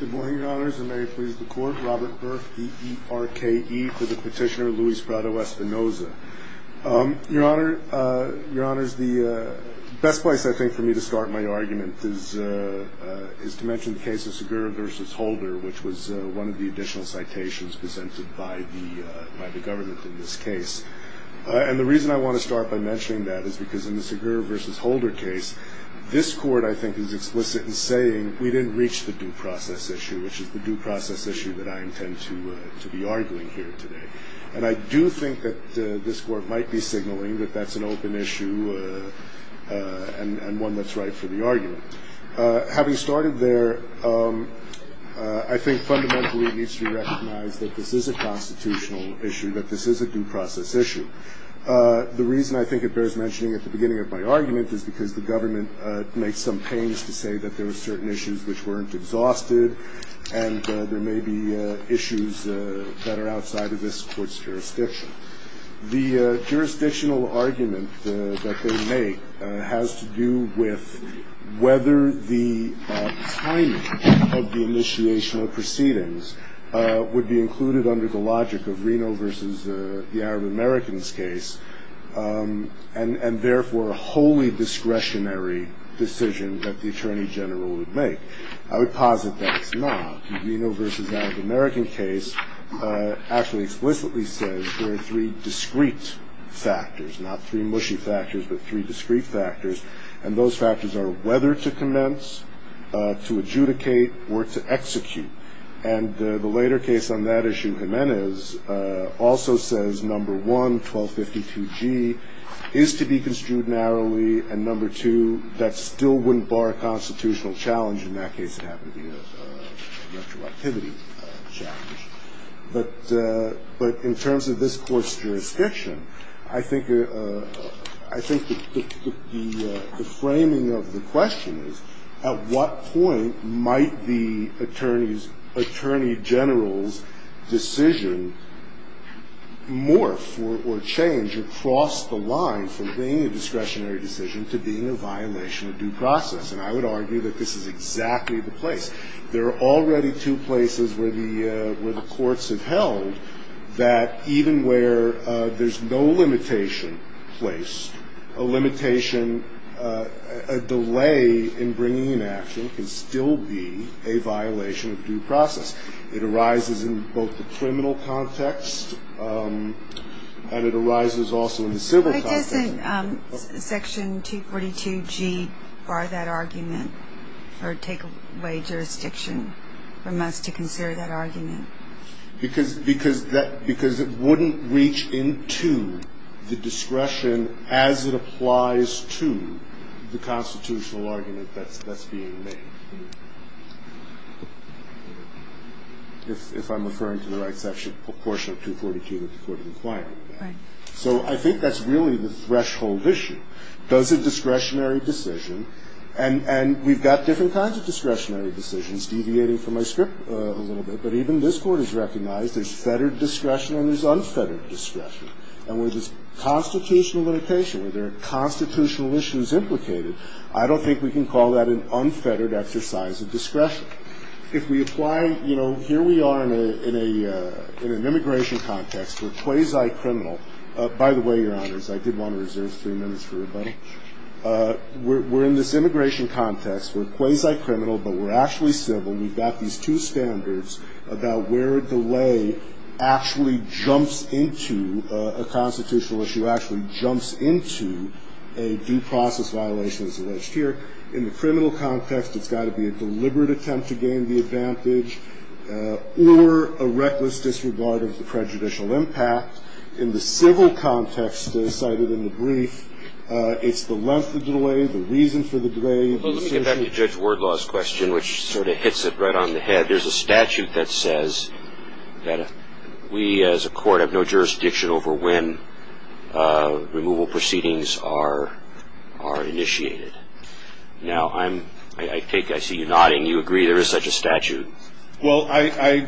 Good morning, your honors, and may it please the court, Robert Burke, E-E-R-K-E, for the petitioner Louis Prado-Espinoza. Your honors, the best place, I think, for me to start my argument is to mention the case of Segura v. Holder, which was one of the additional citations presented by the government in this case. And the reason I want to start by mentioning that is because in the Segura v. Holder case, this court, I think, is explicit in saying we didn't reach the due process issue, which is the due process issue that I intend to be arguing here today. And I do think that this court might be signaling that that's an open issue and one that's right for the argument. Having started there, I think fundamentally it needs to be recognized that this is a constitutional issue, that this is a due process issue. The reason I think it bears mentioning at the beginning of my argument is because the government makes some pains to say that there were certain issues which weren't exhausted and there may be issues that are outside of this court's jurisdiction. The jurisdictional argument that they make has to do with whether the timing of the initiation of proceedings would be included under the logic of Reno v. The Arab Americans case and therefore a wholly discretionary decision that the attorney general would make. I would posit that it's not. The Reno v. The Arab Americans case actually explicitly says there are three discrete factors, not three mushy factors, but three discrete factors, and those factors are whether to commence, to adjudicate, or to execute. And the later case on that issue, Jimenez, also says, number one, 1252G, is to be construed narrowly, and number two, that still wouldn't bar a constitutional challenge. In that case, it happened to be a retroactivity challenge. But in terms of this court's jurisdiction, I think the framing of the question is, at what point might the attorney general's decision morph or change across the line from being a discretionary decision to being a violation of due process? And I would argue that this is exactly the place. There are already two places where the courts have held that even where there's no limitation placed, a limitation, a delay in bringing an action can still be a violation of due process. It arises in both the criminal context and it arises also in the civil context. But doesn't Section 242G bar that argument or take away jurisdiction from us to consider that argument? Because it wouldn't reach into the discretion as it applies to the constitutional argument that's being made. If I'm referring to the right section, portion of 242 that the court is inquiring about. So I think that's really the threshold issue. Does a discretionary decision, and we've got different kinds of discretionary decisions, is deviating from my script a little bit. But even this Court has recognized there's fettered discretion and there's unfettered discretion. And where there's constitutional limitation, where there are constitutional issues implicated, I don't think we can call that an unfettered exercise of discretion. If we apply, you know, here we are in an immigration context. We're quasi-criminal. By the way, Your Honors, I did want to reserve three minutes for rebuttal. We're in this immigration context. We're quasi-criminal, but we're actually civil. We've got these two standards about where a delay actually jumps into a constitutional issue, actually jumps into a due process violation as alleged here. In the criminal context, it's got to be a deliberate attempt to gain the advantage or a reckless disregard of the prejudicial impact. In the civil context, as cited in the brief, it's the length of the delay, the reason for the delay. Well, let me get back to Judge Wardlaw's question, which sort of hits it right on the head. There's a statute that says that we as a court have no jurisdiction over when removal proceedings are initiated. Now, I take it, I see you nodding. You agree there is such a statute. Well, I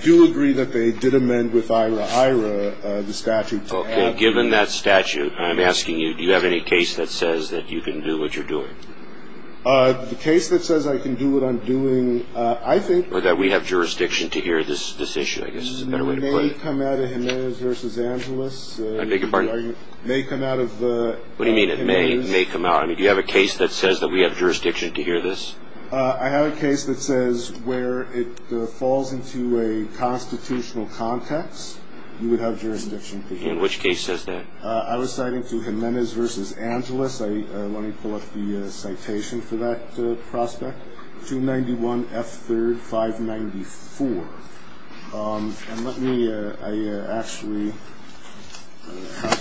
do agree that they did amend with IRA-IRA the statute. Okay. Given that statute, I'm asking you, do you have any case that says that you can do what you're doing? The case that says I can do what I'm doing, I think. Or that we have jurisdiction to hear this issue, I guess is a better way to put it. It may come out of Jimenez v. Angeles. I beg your pardon? It may come out of Jimenez. What do you mean, it may come out? Do you have a case that says that we have jurisdiction to hear this? I have a case that says where it falls into a constitutional context, you would have jurisdiction to hear. And which case says that? I was citing to Jimenez v. Angeles. Let me pull up the citation for that prospect, 291 F. 3rd, 594. And let me actually have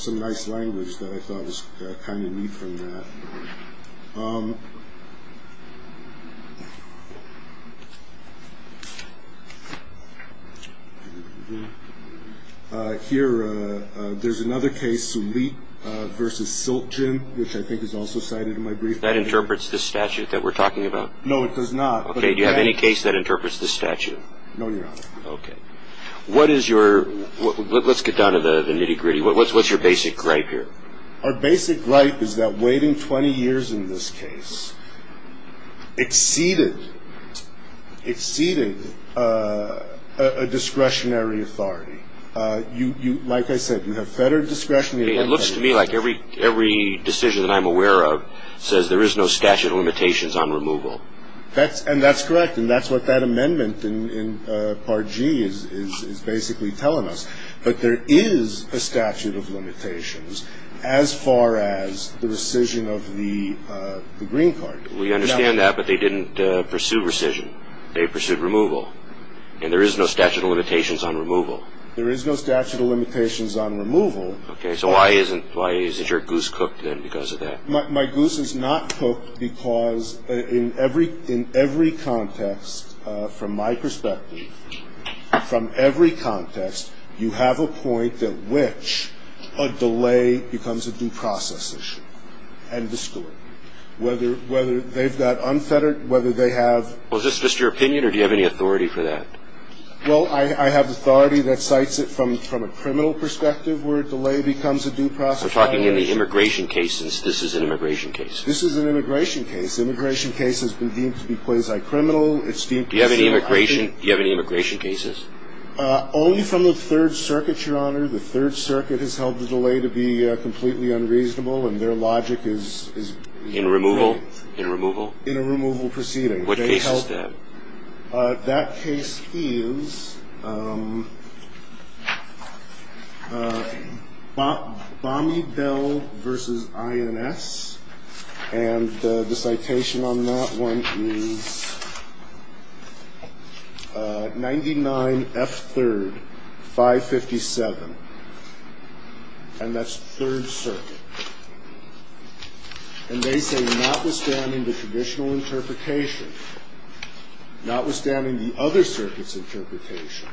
some nice language that I thought was kind of neat from that. Here, there's another case, Sulik v. Silkin, which I think is also cited in my brief. That interprets the statute that we're talking about? No, it does not. Okay. Do you have any case that interprets the statute? No, Your Honor. Okay. Let's get down to the nitty-gritty. What's your basic gripe here? Our basic gripe is that waiting 20 years in this case exceeded a discretionary authority. Like I said, you have federal discretionary authority. It looks to me like every decision that I'm aware of says there is no statute of limitations on removal. And that's correct, and that's what that amendment in Part G is basically telling us. But there is a statute of limitations as far as the rescission of the green card. We understand that, but they didn't pursue rescission. They pursued removal. And there is no statute of limitations on removal. There is no statute of limitations on removal. Okay. So why isn't your goose cooked then because of that? My goose is not cooked because in every context, from my perspective, from every context, you have a point at which a delay becomes a due process issue. End of story. Whether they've got unfettered, whether they have. Well, is this just your opinion, or do you have any authority for that? Well, I have authority that cites it from a criminal perspective where a delay becomes a due process issue. We're talking in the immigration cases. This is an immigration case. This is an immigration case. Immigration case has been deemed to be quasi-criminal. Do you have any immigration cases? Only from the Third Circuit, Your Honor. The Third Circuit has held the delay to be completely unreasonable, and their logic is... In removal? In a removal proceeding. What case is that? That case is Bomby Bell v. INS. And the citation on that one is 99 F. 3rd, 557. And that's Third Circuit. And they say notwithstanding the traditional interpretation, notwithstanding the other circuit's interpretation,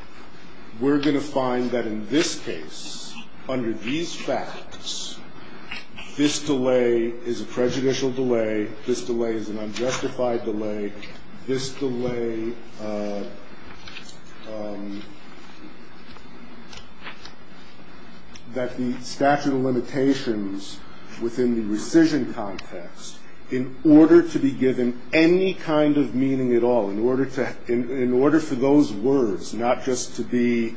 we're going to find that in this case, under these facts, this delay is a prejudicial delay. This delay is an unjustified delay. This delay, that the statute of limitations within the rescission context, in order to be given any kind of meaning at all, in order for those words not just to be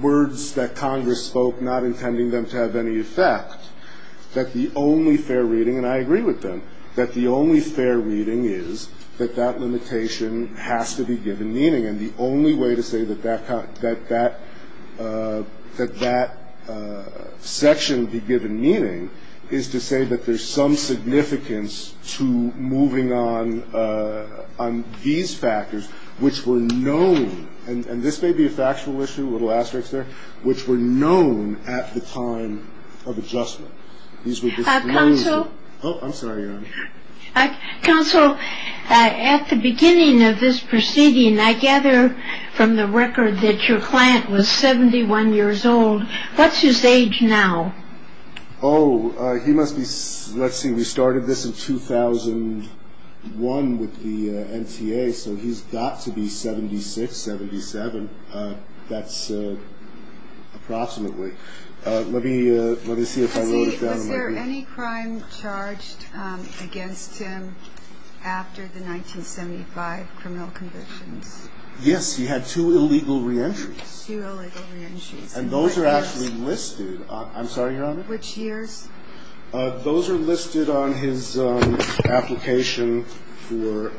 words that Congress spoke, not intending them to have any effect, that the only fair reading... that that limitation has to be given meaning. And the only way to say that that section be given meaning is to say that there's some significance to moving on these factors, which were known... And this may be a factual issue, a little asterisk there... which were known at the time of adjustment. These were just known... Counsel. Oh, I'm sorry, Your Honor. Counsel, at the beginning of this proceeding, I gather from the record that your client was 71 years old. What's his age now? Oh, he must be... Let's see, we started this in 2001 with the NTA, so he's got to be 76, 77. That's approximately. Let me see if I wrote it down. Is there any crime charged against him after the 1975 criminal convictions? Yes. He had two illegal reentries. Two illegal reentries. And those are actually listed. I'm sorry, Your Honor. Which years? Those are listed on his application for...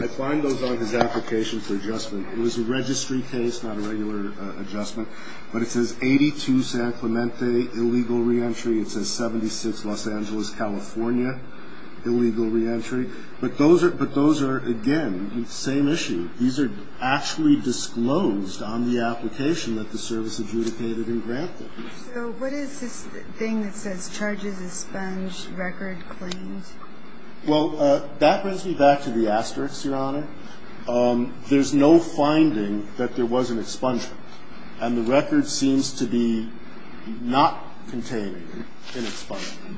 I find those on his application for adjustment. It was a registry case, not a regular adjustment. But it says 82 San Clemente, illegal reentry. It says 76 Los Angeles, California, illegal reentry. But those are, again, same issue. These are actually disclosed on the application that the service adjudicated and granted. So what is this thing that says charges expunged, record claimed? Well, that brings me back to the asterisk, Your Honor. There's no finding that there was an expungement, and the record seems to be not containing an expungement.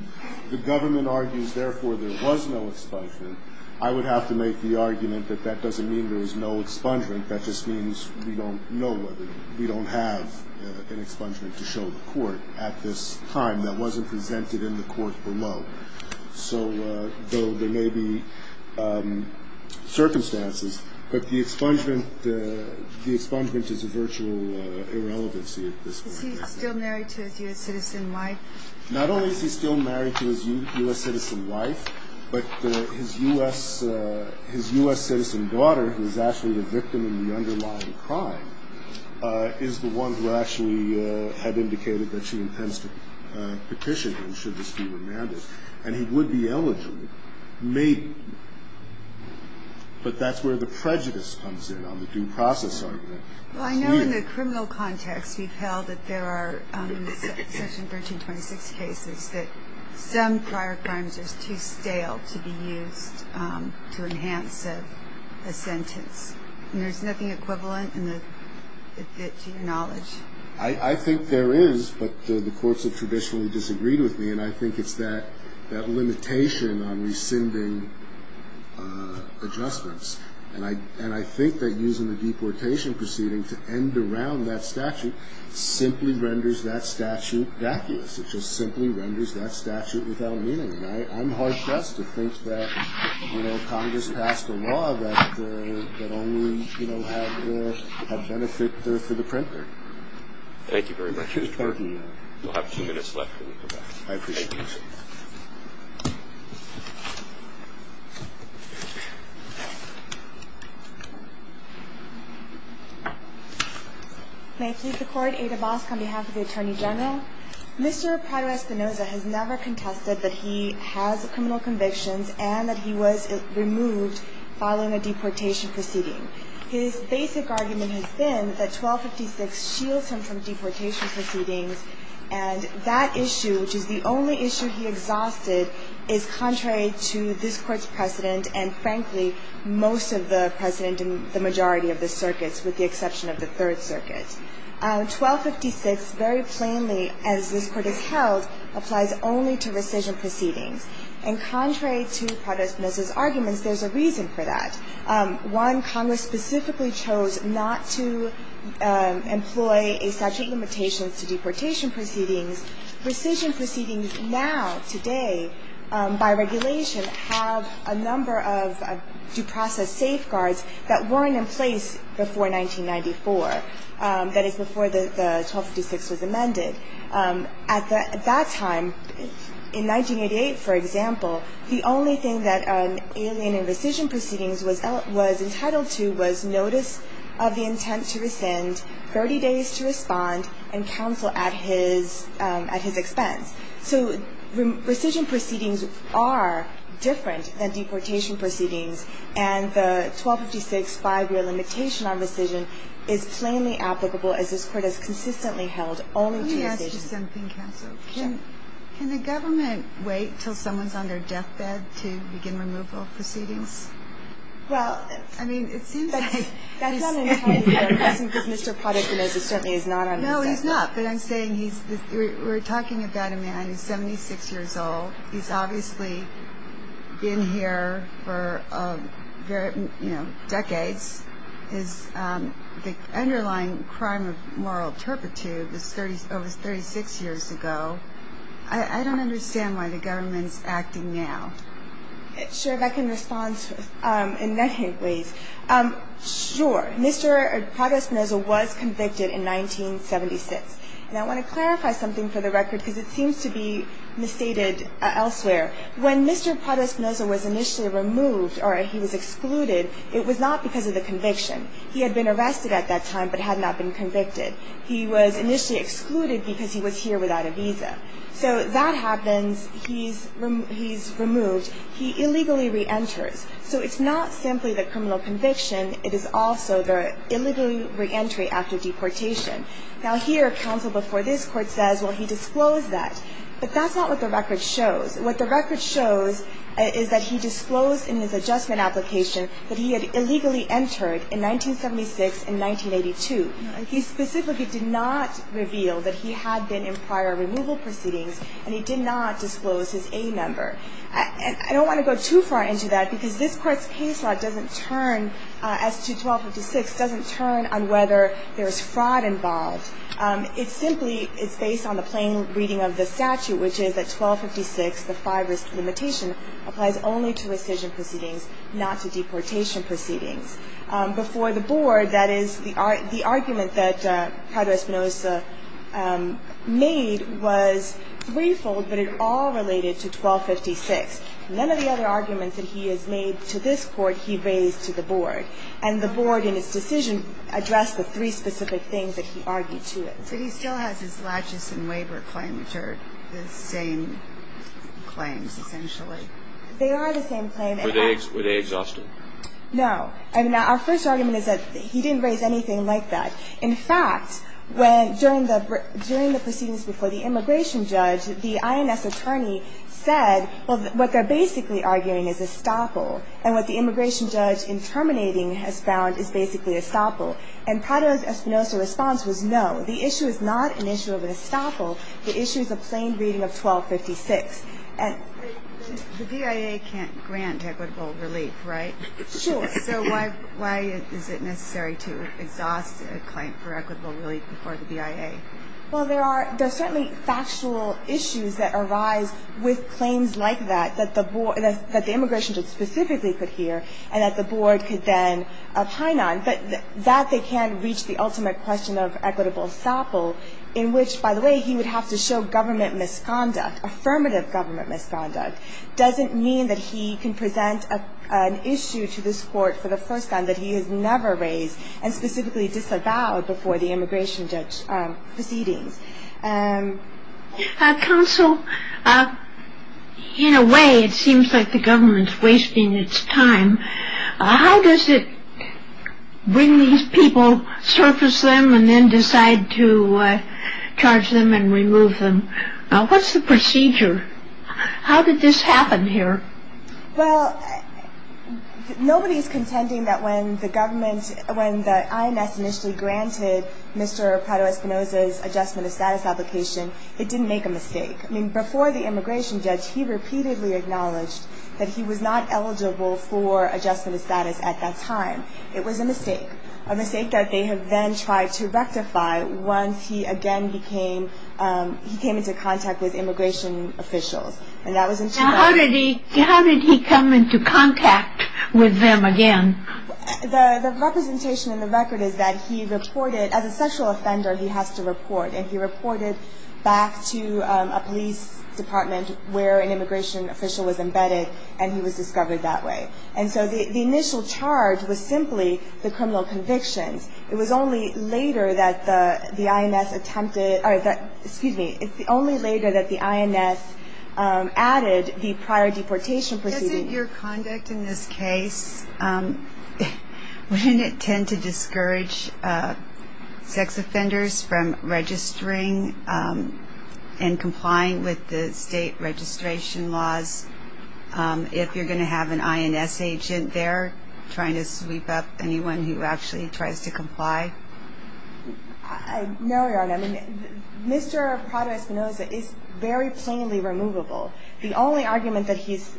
The government argues, therefore, there was no expungement. I would have to make the argument that that doesn't mean there was no expungement. That just means we don't know whether we don't have an expungement to show the court at this time that wasn't presented in the court below. So there may be circumstances, but the expungement is a virtual irrelevancy at this point. Is he still married to his U.S. citizen wife? Not only is he still married to his U.S. citizen wife, but his U.S. citizen daughter, who is actually the victim in the underlying crime, is the one who actually had indicated that she intends to petition him should this be remanded. And he would be eligible. But that's where the prejudice comes in on the due process argument. Well, I know in the criminal context we've held that there are, in Section 1326 cases, that some prior crimes are too stale to be used to enhance a sentence. There's nothing equivalent to your knowledge. I think there is, but the courts have traditionally disagreed with me, and I think it's that limitation on rescinding adjustments. And I think that using the deportation proceeding to end around that statute simply renders that statute vacuous. It just simply renders that statute without meaning. I'm hard-pressed to think that Congress passed a law that only had benefit for the printer. Thank you very much, Mr. Burton. We'll have a few minutes left when we come back. I appreciate it. Thank you. May I please record Ada Bosk on behalf of the Attorney General. Mr. Prado-Espinosa has never contested that he has criminal convictions and that he was removed following a deportation proceeding. His basic argument has been that 1256 shields him from deportation proceedings, and that issue, which is the only issue he exhausted, is contrary to this Court's precedent and, frankly, most of the precedent in the majority of the circuits, with the exception of the Third Circuit. 1256 very plainly, as this Court has held, applies only to rescission proceedings. And contrary to Prado-Espinosa's arguments, there's a reason for that. One, Congress specifically chose not to employ a statute limitation to deportation proceedings. Rescission proceedings now, today, by regulation, have a number of due process safeguards that weren't in place before 1994. That is, before the 1256 was amended. At that time, in 1988, for example, the only thing that an alien in rescission proceedings was entitled to was notice of the intent to rescind, 30 days to respond, and counsel at his expense. So rescission proceedings are different than deportation proceedings, and the 1256 five-year limitation on rescission is plainly applicable, as this Court has consistently held, only to rescission. Let me ask you something, counsel. Sure. Can the government wait until someone's on their deathbed to begin removal proceedings? Well, I mean, it seems like he's... That's not an entirely fair question, because Mr. Prado-Espinosa certainly is not on his deathbed. No, he's not. But I'm saying he's, we're talking about a man who's 76 years old. He's obviously been here for, you know, decades. His underlying crime of moral turpitude was over 36 years ago. I don't understand why the government's acting now. Sure, if I can respond in that hint, please. Sure, Mr. Prado-Espinosa was convicted in 1976. And I want to clarify something for the record, because it seems to be misstated elsewhere. When Mr. Prado-Espinosa was initially removed or he was excluded, it was not because of the conviction. He had been arrested at that time but had not been convicted. He was initially excluded because he was here without a visa. So that happens. He's removed. He illegally reenters. So it's not simply the criminal conviction. It is also the illegal reentry after deportation. Now, here, counsel before this court says, well, he disclosed that. But that's not what the record shows. What the record shows is that he disclosed in his adjustment application that he had illegally entered in 1976 and 1982. He specifically did not reveal that he had been in prior removal proceedings, and he did not disclose his A-member. I don't want to go too far into that, because this court's case law doesn't turn, as to 1256, doesn't turn on whether there's fraud involved. It simply is based on the plain reading of the statute, which is that 1256, the five-risk limitation, applies only to rescission proceedings, not to deportation proceedings. Before the board, that is, the argument that Prado-Espinosa made was threefold, but it all related to 1256. None of the other arguments that he has made to this court he raised to the board. And the board, in its decision, addressed the three specific things that he argued to it. But he still has his latches and waiver claim, which are the same claims, essentially. They are the same claim. Were they exhausted? No. I mean, our first argument is that he didn't raise anything like that. In fact, during the proceedings before the immigration judge, the INS attorney said, well, what they're basically arguing is estoppel. And what the immigration judge, in terminating, has found is basically estoppel. And Prado-Espinosa's response was no. The issue is not an issue of an estoppel. The issue is a plain reading of 1256. And the VIA can't grant equitable relief, right? Sure. So why is it necessary to exhaust a claim for equitable relief before the VIA? Well, there are certainly factual issues that arise with claims like that, that the immigration judge specifically could hear and that the board could then opine on. But that they can't reach the ultimate question of equitable estoppel, in which, by the way, he would have to show government misconduct, affirmative government misconduct, doesn't mean that he can present an issue to this court for the first time that he has never raised and specifically disavowed before the immigration judge proceedings. Counsel, in a way, it seems like the government's wasting its time. How does it bring these people, surface them, and then decide to charge them and remove them? What's the procedure? How did this happen here? Well, nobody's contending that when the government, when the INS initially granted Mr. Prado-Espinosa's adjustment of status application, it didn't make a mistake. I mean, before the immigration judge, he repeatedly acknowledged that he was not eligible for adjustment of status at that time. It was a mistake, a mistake that they have then tried to rectify once he again became, he came into contact with immigration officials. And that was in July. How did he come into contact with them again? The representation in the record is that he reported, as a sexual offender, he has to report, and he reported back to a police department where an immigration official was embedded, and he was discovered that way. And so the initial charge was simply the criminal convictions. It was only later that the INS attempted, or excuse me, it's only later that the INS added the prior deportation procedure. Doesn't your conduct in this case, wouldn't it tend to discourage sex offenders from registering and complying with the state registration laws? If you're going to have an INS agent there trying to sweep up anyone who actually tries to comply? No, Your Honor. I mean, Mr. Prado-Espinoza is very plainly removable. The only argument that he's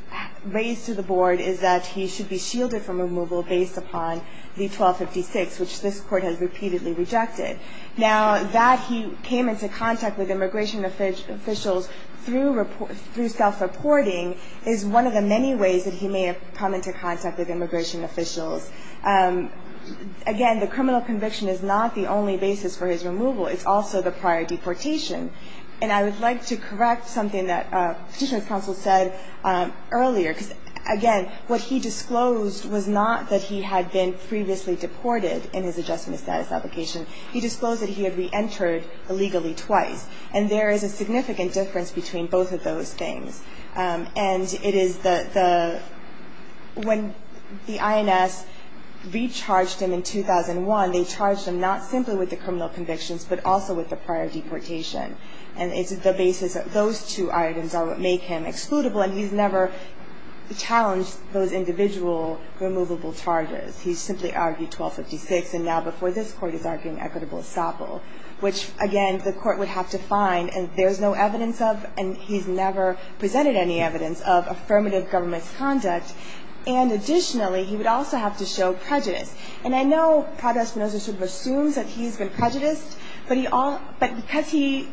raised to the Board is that he should be shielded from removal based upon the 1256, which this Court has repeatedly rejected. Now, that he came into contact with immigration officials through self-reporting is one of the many ways that he may have come into contact with immigration officials. Again, the criminal conviction is not the only basis for his removal. It's also the prior deportation. And I would like to correct something that Petitioner's counsel said earlier, because, again, what he disclosed was not that he had been previously deported in his adjustment of status application. He disclosed that he had reentered illegally twice, and there is a significant difference between both of those things. And it is the – when the INS recharged him in 2001, they charged him not simply with the criminal convictions, but also with the prior deportation. And it's the basis that those two items are what make him excludable, and he's never challenged those individual removable charges. He's simply argued 1256, and now before this Court he's arguing equitable estoppel, which, again, the Court would have to find, and there's no evidence of, and he's never presented any evidence of affirmative government's conduct. And additionally, he would also have to show prejudice. And I know Professor Spinoza sort of assumes that he's been prejudiced, but because he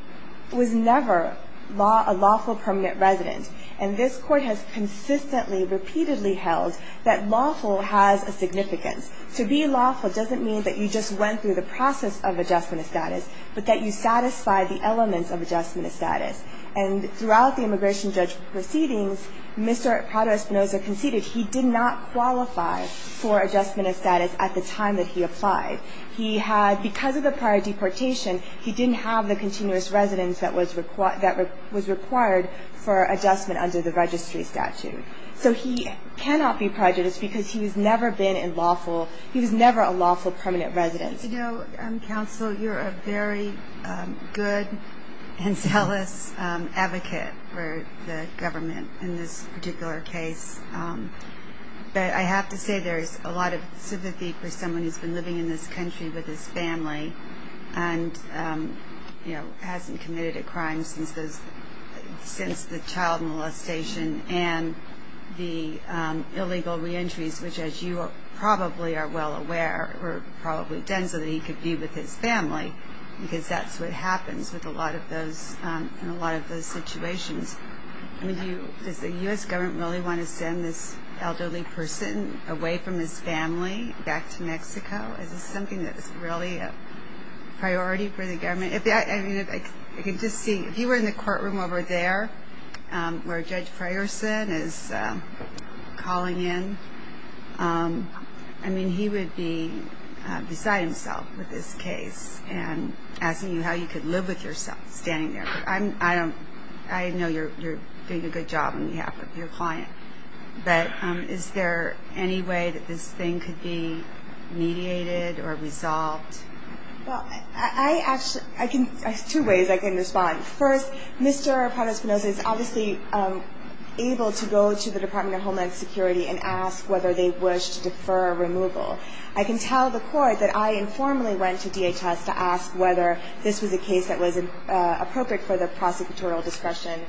was never a lawful permanent resident, and this Court has consistently, repeatedly held that lawful has a significance. To be lawful doesn't mean that you just went through the process of adjustment of status, but that you satisfied the elements of adjustment of status. And throughout the immigration judge proceedings, Mr. Prado-Spinoza conceded he did not qualify for adjustment of status at the time that he applied. He had – because of the prior deportation, he didn't have the continuous residence that was required for adjustment under the registry statute. So he cannot be prejudiced because he was never been in lawful – he was never a lawful permanent resident. You know, Counsel, you're a very good and zealous advocate for the government in this particular case. But I have to say there's a lot of sympathy for someone who's been living in this country with his family and, you know, hasn't committed a crime since the child molestation and the illegal reentries, which, as you probably are well aware, were probably done so that he could be with his family, because that's what happens with a lot of those – in a lot of those situations. I mean, do you – does the U.S. government really want to send this elderly person away from his family back to Mexico? Is this something that is really a priority for the government? I mean, if I could just see – if you were in the courtroom over there where Judge Frierson is calling in, I mean, he would be beside himself with this case and asking you how you could live with yourself standing there. I don't – I know you're doing a good job on behalf of your client. But is there any way that this thing could be mediated or resolved? Well, I actually – I can – there's two ways I can respond. First, Mr. Padres-Spinoza is obviously able to go to the Department of Homeland Security and ask whether they wish to defer removal. I can tell the court that I informally went to DHS to ask whether this was a case that was appropriate for the prosecutorial discretion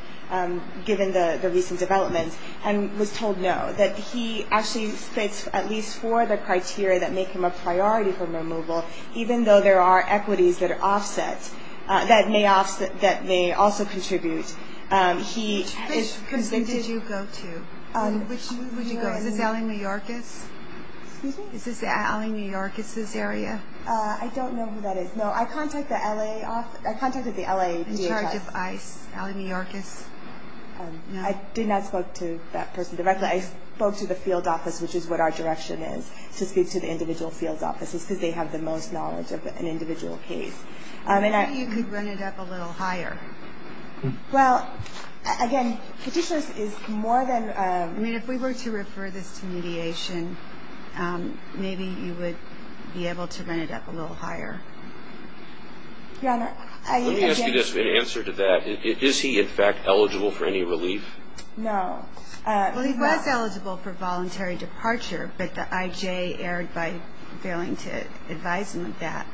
given the recent developments and was told no, that he actually fits at least four of the criteria that make him a priority for removal, even though there are equities that are offset, that may also contribute. Which prison did you go to? Which one would you go to? Is this LA New York? Excuse me? Is this LA New York? Is this area? I don't know who that is. No, I contacted the LA – I contacted the LA DHS. In charge of ICE, LA New York is? I did not spoke to that person directly. I spoke to the field office, which is what our direction is, to speak to the individual field offices because they have the most knowledge of an individual case. Maybe you could run it up a little higher. Well, again, Petitioners is more than – I mean, if we were to refer this to mediation, maybe you would be able to run it up a little higher. Your Honor, I – Let me ask you an answer to that. Is he, in fact, eligible for any relief? No. Well, he was eligible for voluntary departure, but the IJ erred by failing to advise him of that.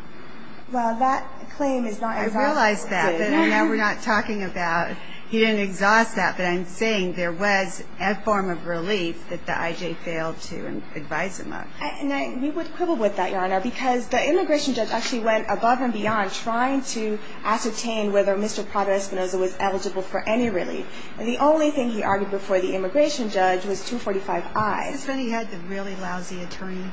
Well, that claim is not – I realize that, but now we're not talking about – he didn't exhaust that, but I'm saying there was a form of relief that the IJ failed to advise him of. And we would quibble with that, Your Honor, because the immigration judge actually went above and beyond trying to ascertain whether Mr. Pablo Espinoza was eligible for any relief. And the only thing he argued before the immigration judge was 245-I. That's when he had the really lousy attorney.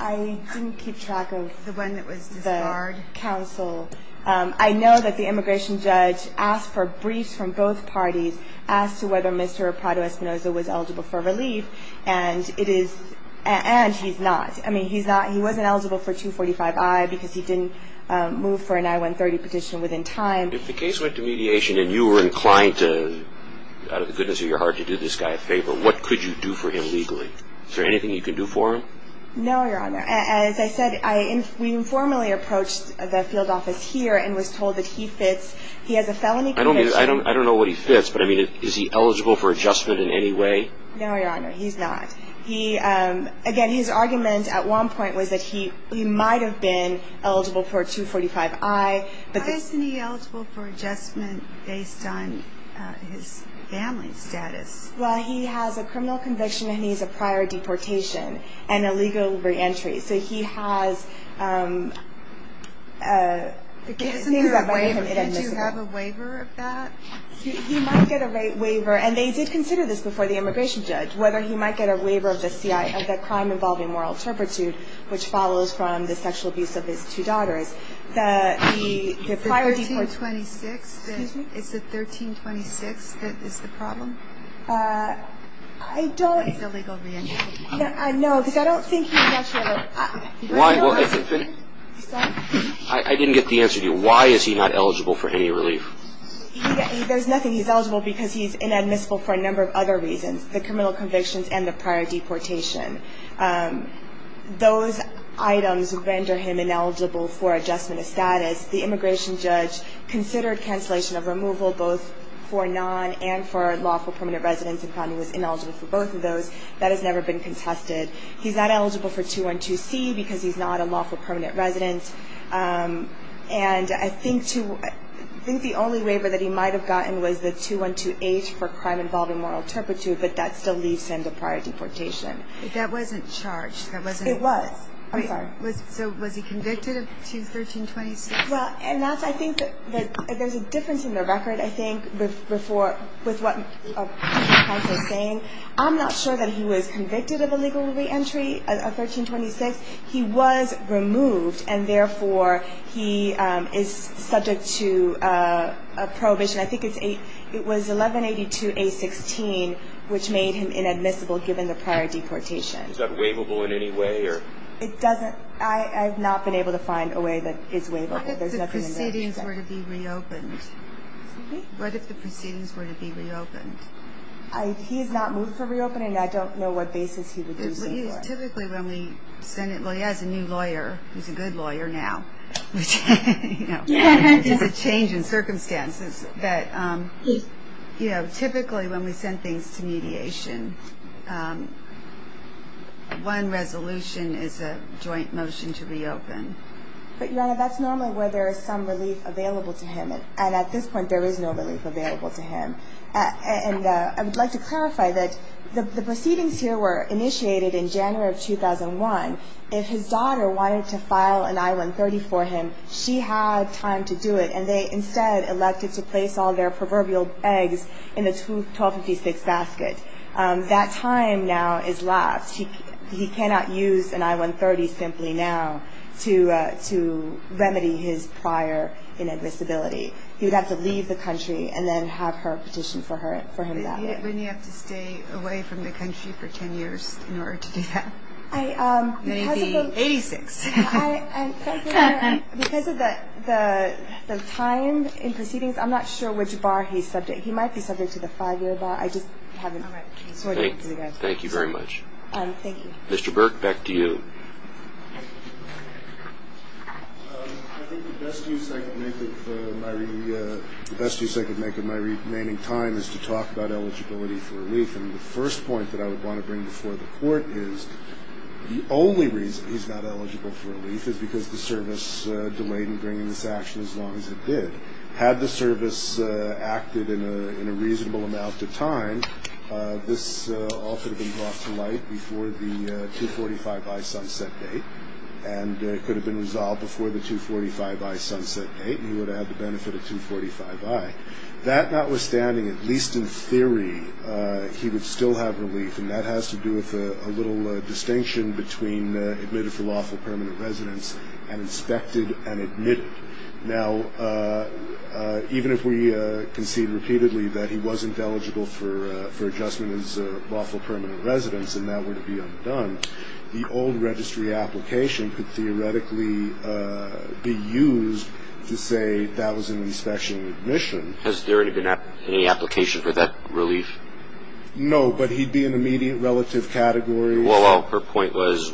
I didn't keep track of – The one that was disbarred. The counsel. I know that the immigration judge asked for briefs from both parties, asked whether Mr. Pablo Espinoza was eligible for relief, and it is – and he's not. I mean, he's not – he wasn't eligible for 245-I because he didn't move for an I-130 petition within time. If the case went to mediation and you were inclined to, out of the goodness of your heart, to do this guy a favor, what could you do for him legally? Is there anything you could do for him? No, Your Honor. As I said, we informally approached the field office here and was told that he fits – he has a felony conviction. I don't know what he fits, but, I mean, is he eligible for adjustment in any way? No, Your Honor, he's not. Again, his argument at one point was that he might have been eligible for 245-I. Why isn't he eligible for adjustment based on his family status? Well, he has a criminal conviction and he has a prior deportation and a legal reentry. So he has things that might make him inadmissible. Isn't there a waiver? Did you have a waiver of that? He might get a waiver, and they did consider this before the immigration judge, whether he might get a waiver of the crime involving moral turpitude, which follows from the sexual abuse of his two daughters. The prior deportation – The 1326? Excuse me? Is the 1326 the problem? I don't – It's a legal reentry. No, because I don't think he's eligible. Why – I didn't get the answer to you. Why is he not eligible for any relief? There's nothing. He's eligible because he's inadmissible for a number of other reasons, the criminal convictions and the prior deportation. Those items render him ineligible for adjustment of status. The immigration judge considered cancellation of removal, both for non- and for lawful permanent residents and found he was ineligible for both of those. That has never been contested. He's not eligible for 212C because he's not a lawful permanent resident. And I think the only waiver that he might have gotten was the 212H for crime involving moral turpitude, but that still leaves him to prior deportation. But that wasn't charged. It was. I'm sorry. So was he convicted of 21326? Well, and that's – I think that there's a difference in the record, I think, with what the counsel is saying. I'm not sure that he was convicted of a legal reentry of 1326. He was removed, and therefore he is subject to a prohibition. I think it was 1182A-16, which made him inadmissible given the prior deportation. Is that waivable in any way? It doesn't. I have not been able to find a way that is waivable. What if the proceedings were to be reopened? Excuse me? What if the proceedings were to be reopened? He has not moved for reopening. I don't know what basis he would do so for. Typically when we send it – well, he has a new lawyer. He's a good lawyer now, which is a change in circumstances. Typically when we send things to mediation, one resolution is a joint motion to reopen. But, Your Honor, that's normally where there is some relief available to him, and at this point there is no relief available to him. And I would like to clarify that the proceedings here were initiated in January of 2001. If his daughter wanted to file an I-130 for him, she had time to do it, and they instead elected to place all their proverbial eggs in the 1256 basket. That time now is lost. He cannot use an I-130 simply now to remedy his prior inadmissibility. He would have to leave the country and then have her petition for him that way. Wouldn't he have to stay away from the country for 10 years in order to do that? 1986. And because of the time in proceedings, I'm not sure which bar he's subject. He might be subject to the five-year bar. I just haven't sorted it for you guys. Thank you very much. Thank you. Mr. Burke, back to you. I think the best use I can make of my remaining time is to talk about eligibility for relief. And the first point that I would want to bring before the court is the only reason he's not eligible for relief is because the service delayed in bringing this action as long as it did. Had the service acted in a reasonable amount of time, this all could have been brought to light before the 245i sunset date, and it could have been resolved before the 245i sunset date, and he would have had the benefit of 245i. That notwithstanding, at least in theory, he would still have relief, and that has to do with a little distinction between admitted for lawful permanent residence and inspected and admitted. Now, even if we concede repeatedly that he wasn't eligible for adjustment as lawful permanent residence and that were to be undone, the old registry application could theoretically be used to say that was an inspection and admission. Has there been any application for that relief? No, but he'd be in the immediate relative category. Well, her point was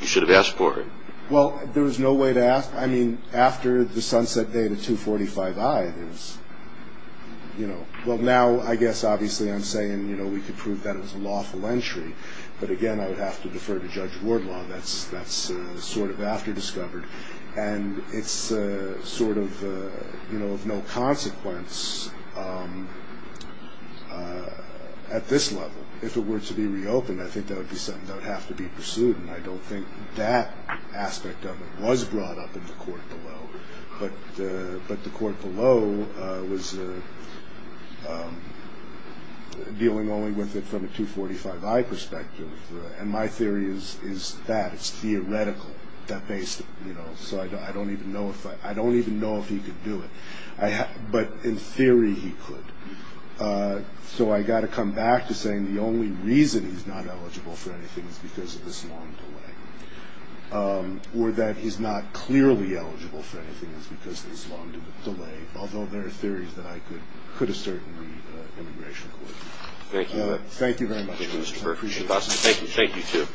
you should have asked for it. Well, there was no way to ask. I mean, after the sunset date of 245i, it was, you know, well, now I guess obviously I'm saying, you know, we could prove that it was a lawful entry. But, again, I would have to defer to Judge Wardlaw. That's sort of after discovered, and it's sort of, you know, of no consequence at this level. If it were to be reopened, I think that would be something that would have to be pursued, and I don't think that aspect of it was brought up in the court below. But the court below was dealing only with it from a 245i perspective, and my theory is that. It's theoretical, you know, so I don't even know if he could do it. But in theory, he could. So I've got to come back to saying the only reason he's not eligible for anything is because of this long delay or that he's not clearly eligible for anything is because of this long delay, although there are theories that I could assert in the immigration court. Thank you. Thank you very much. Thank you, Mr. Burke. I appreciate it. Thank you. Thank you, too.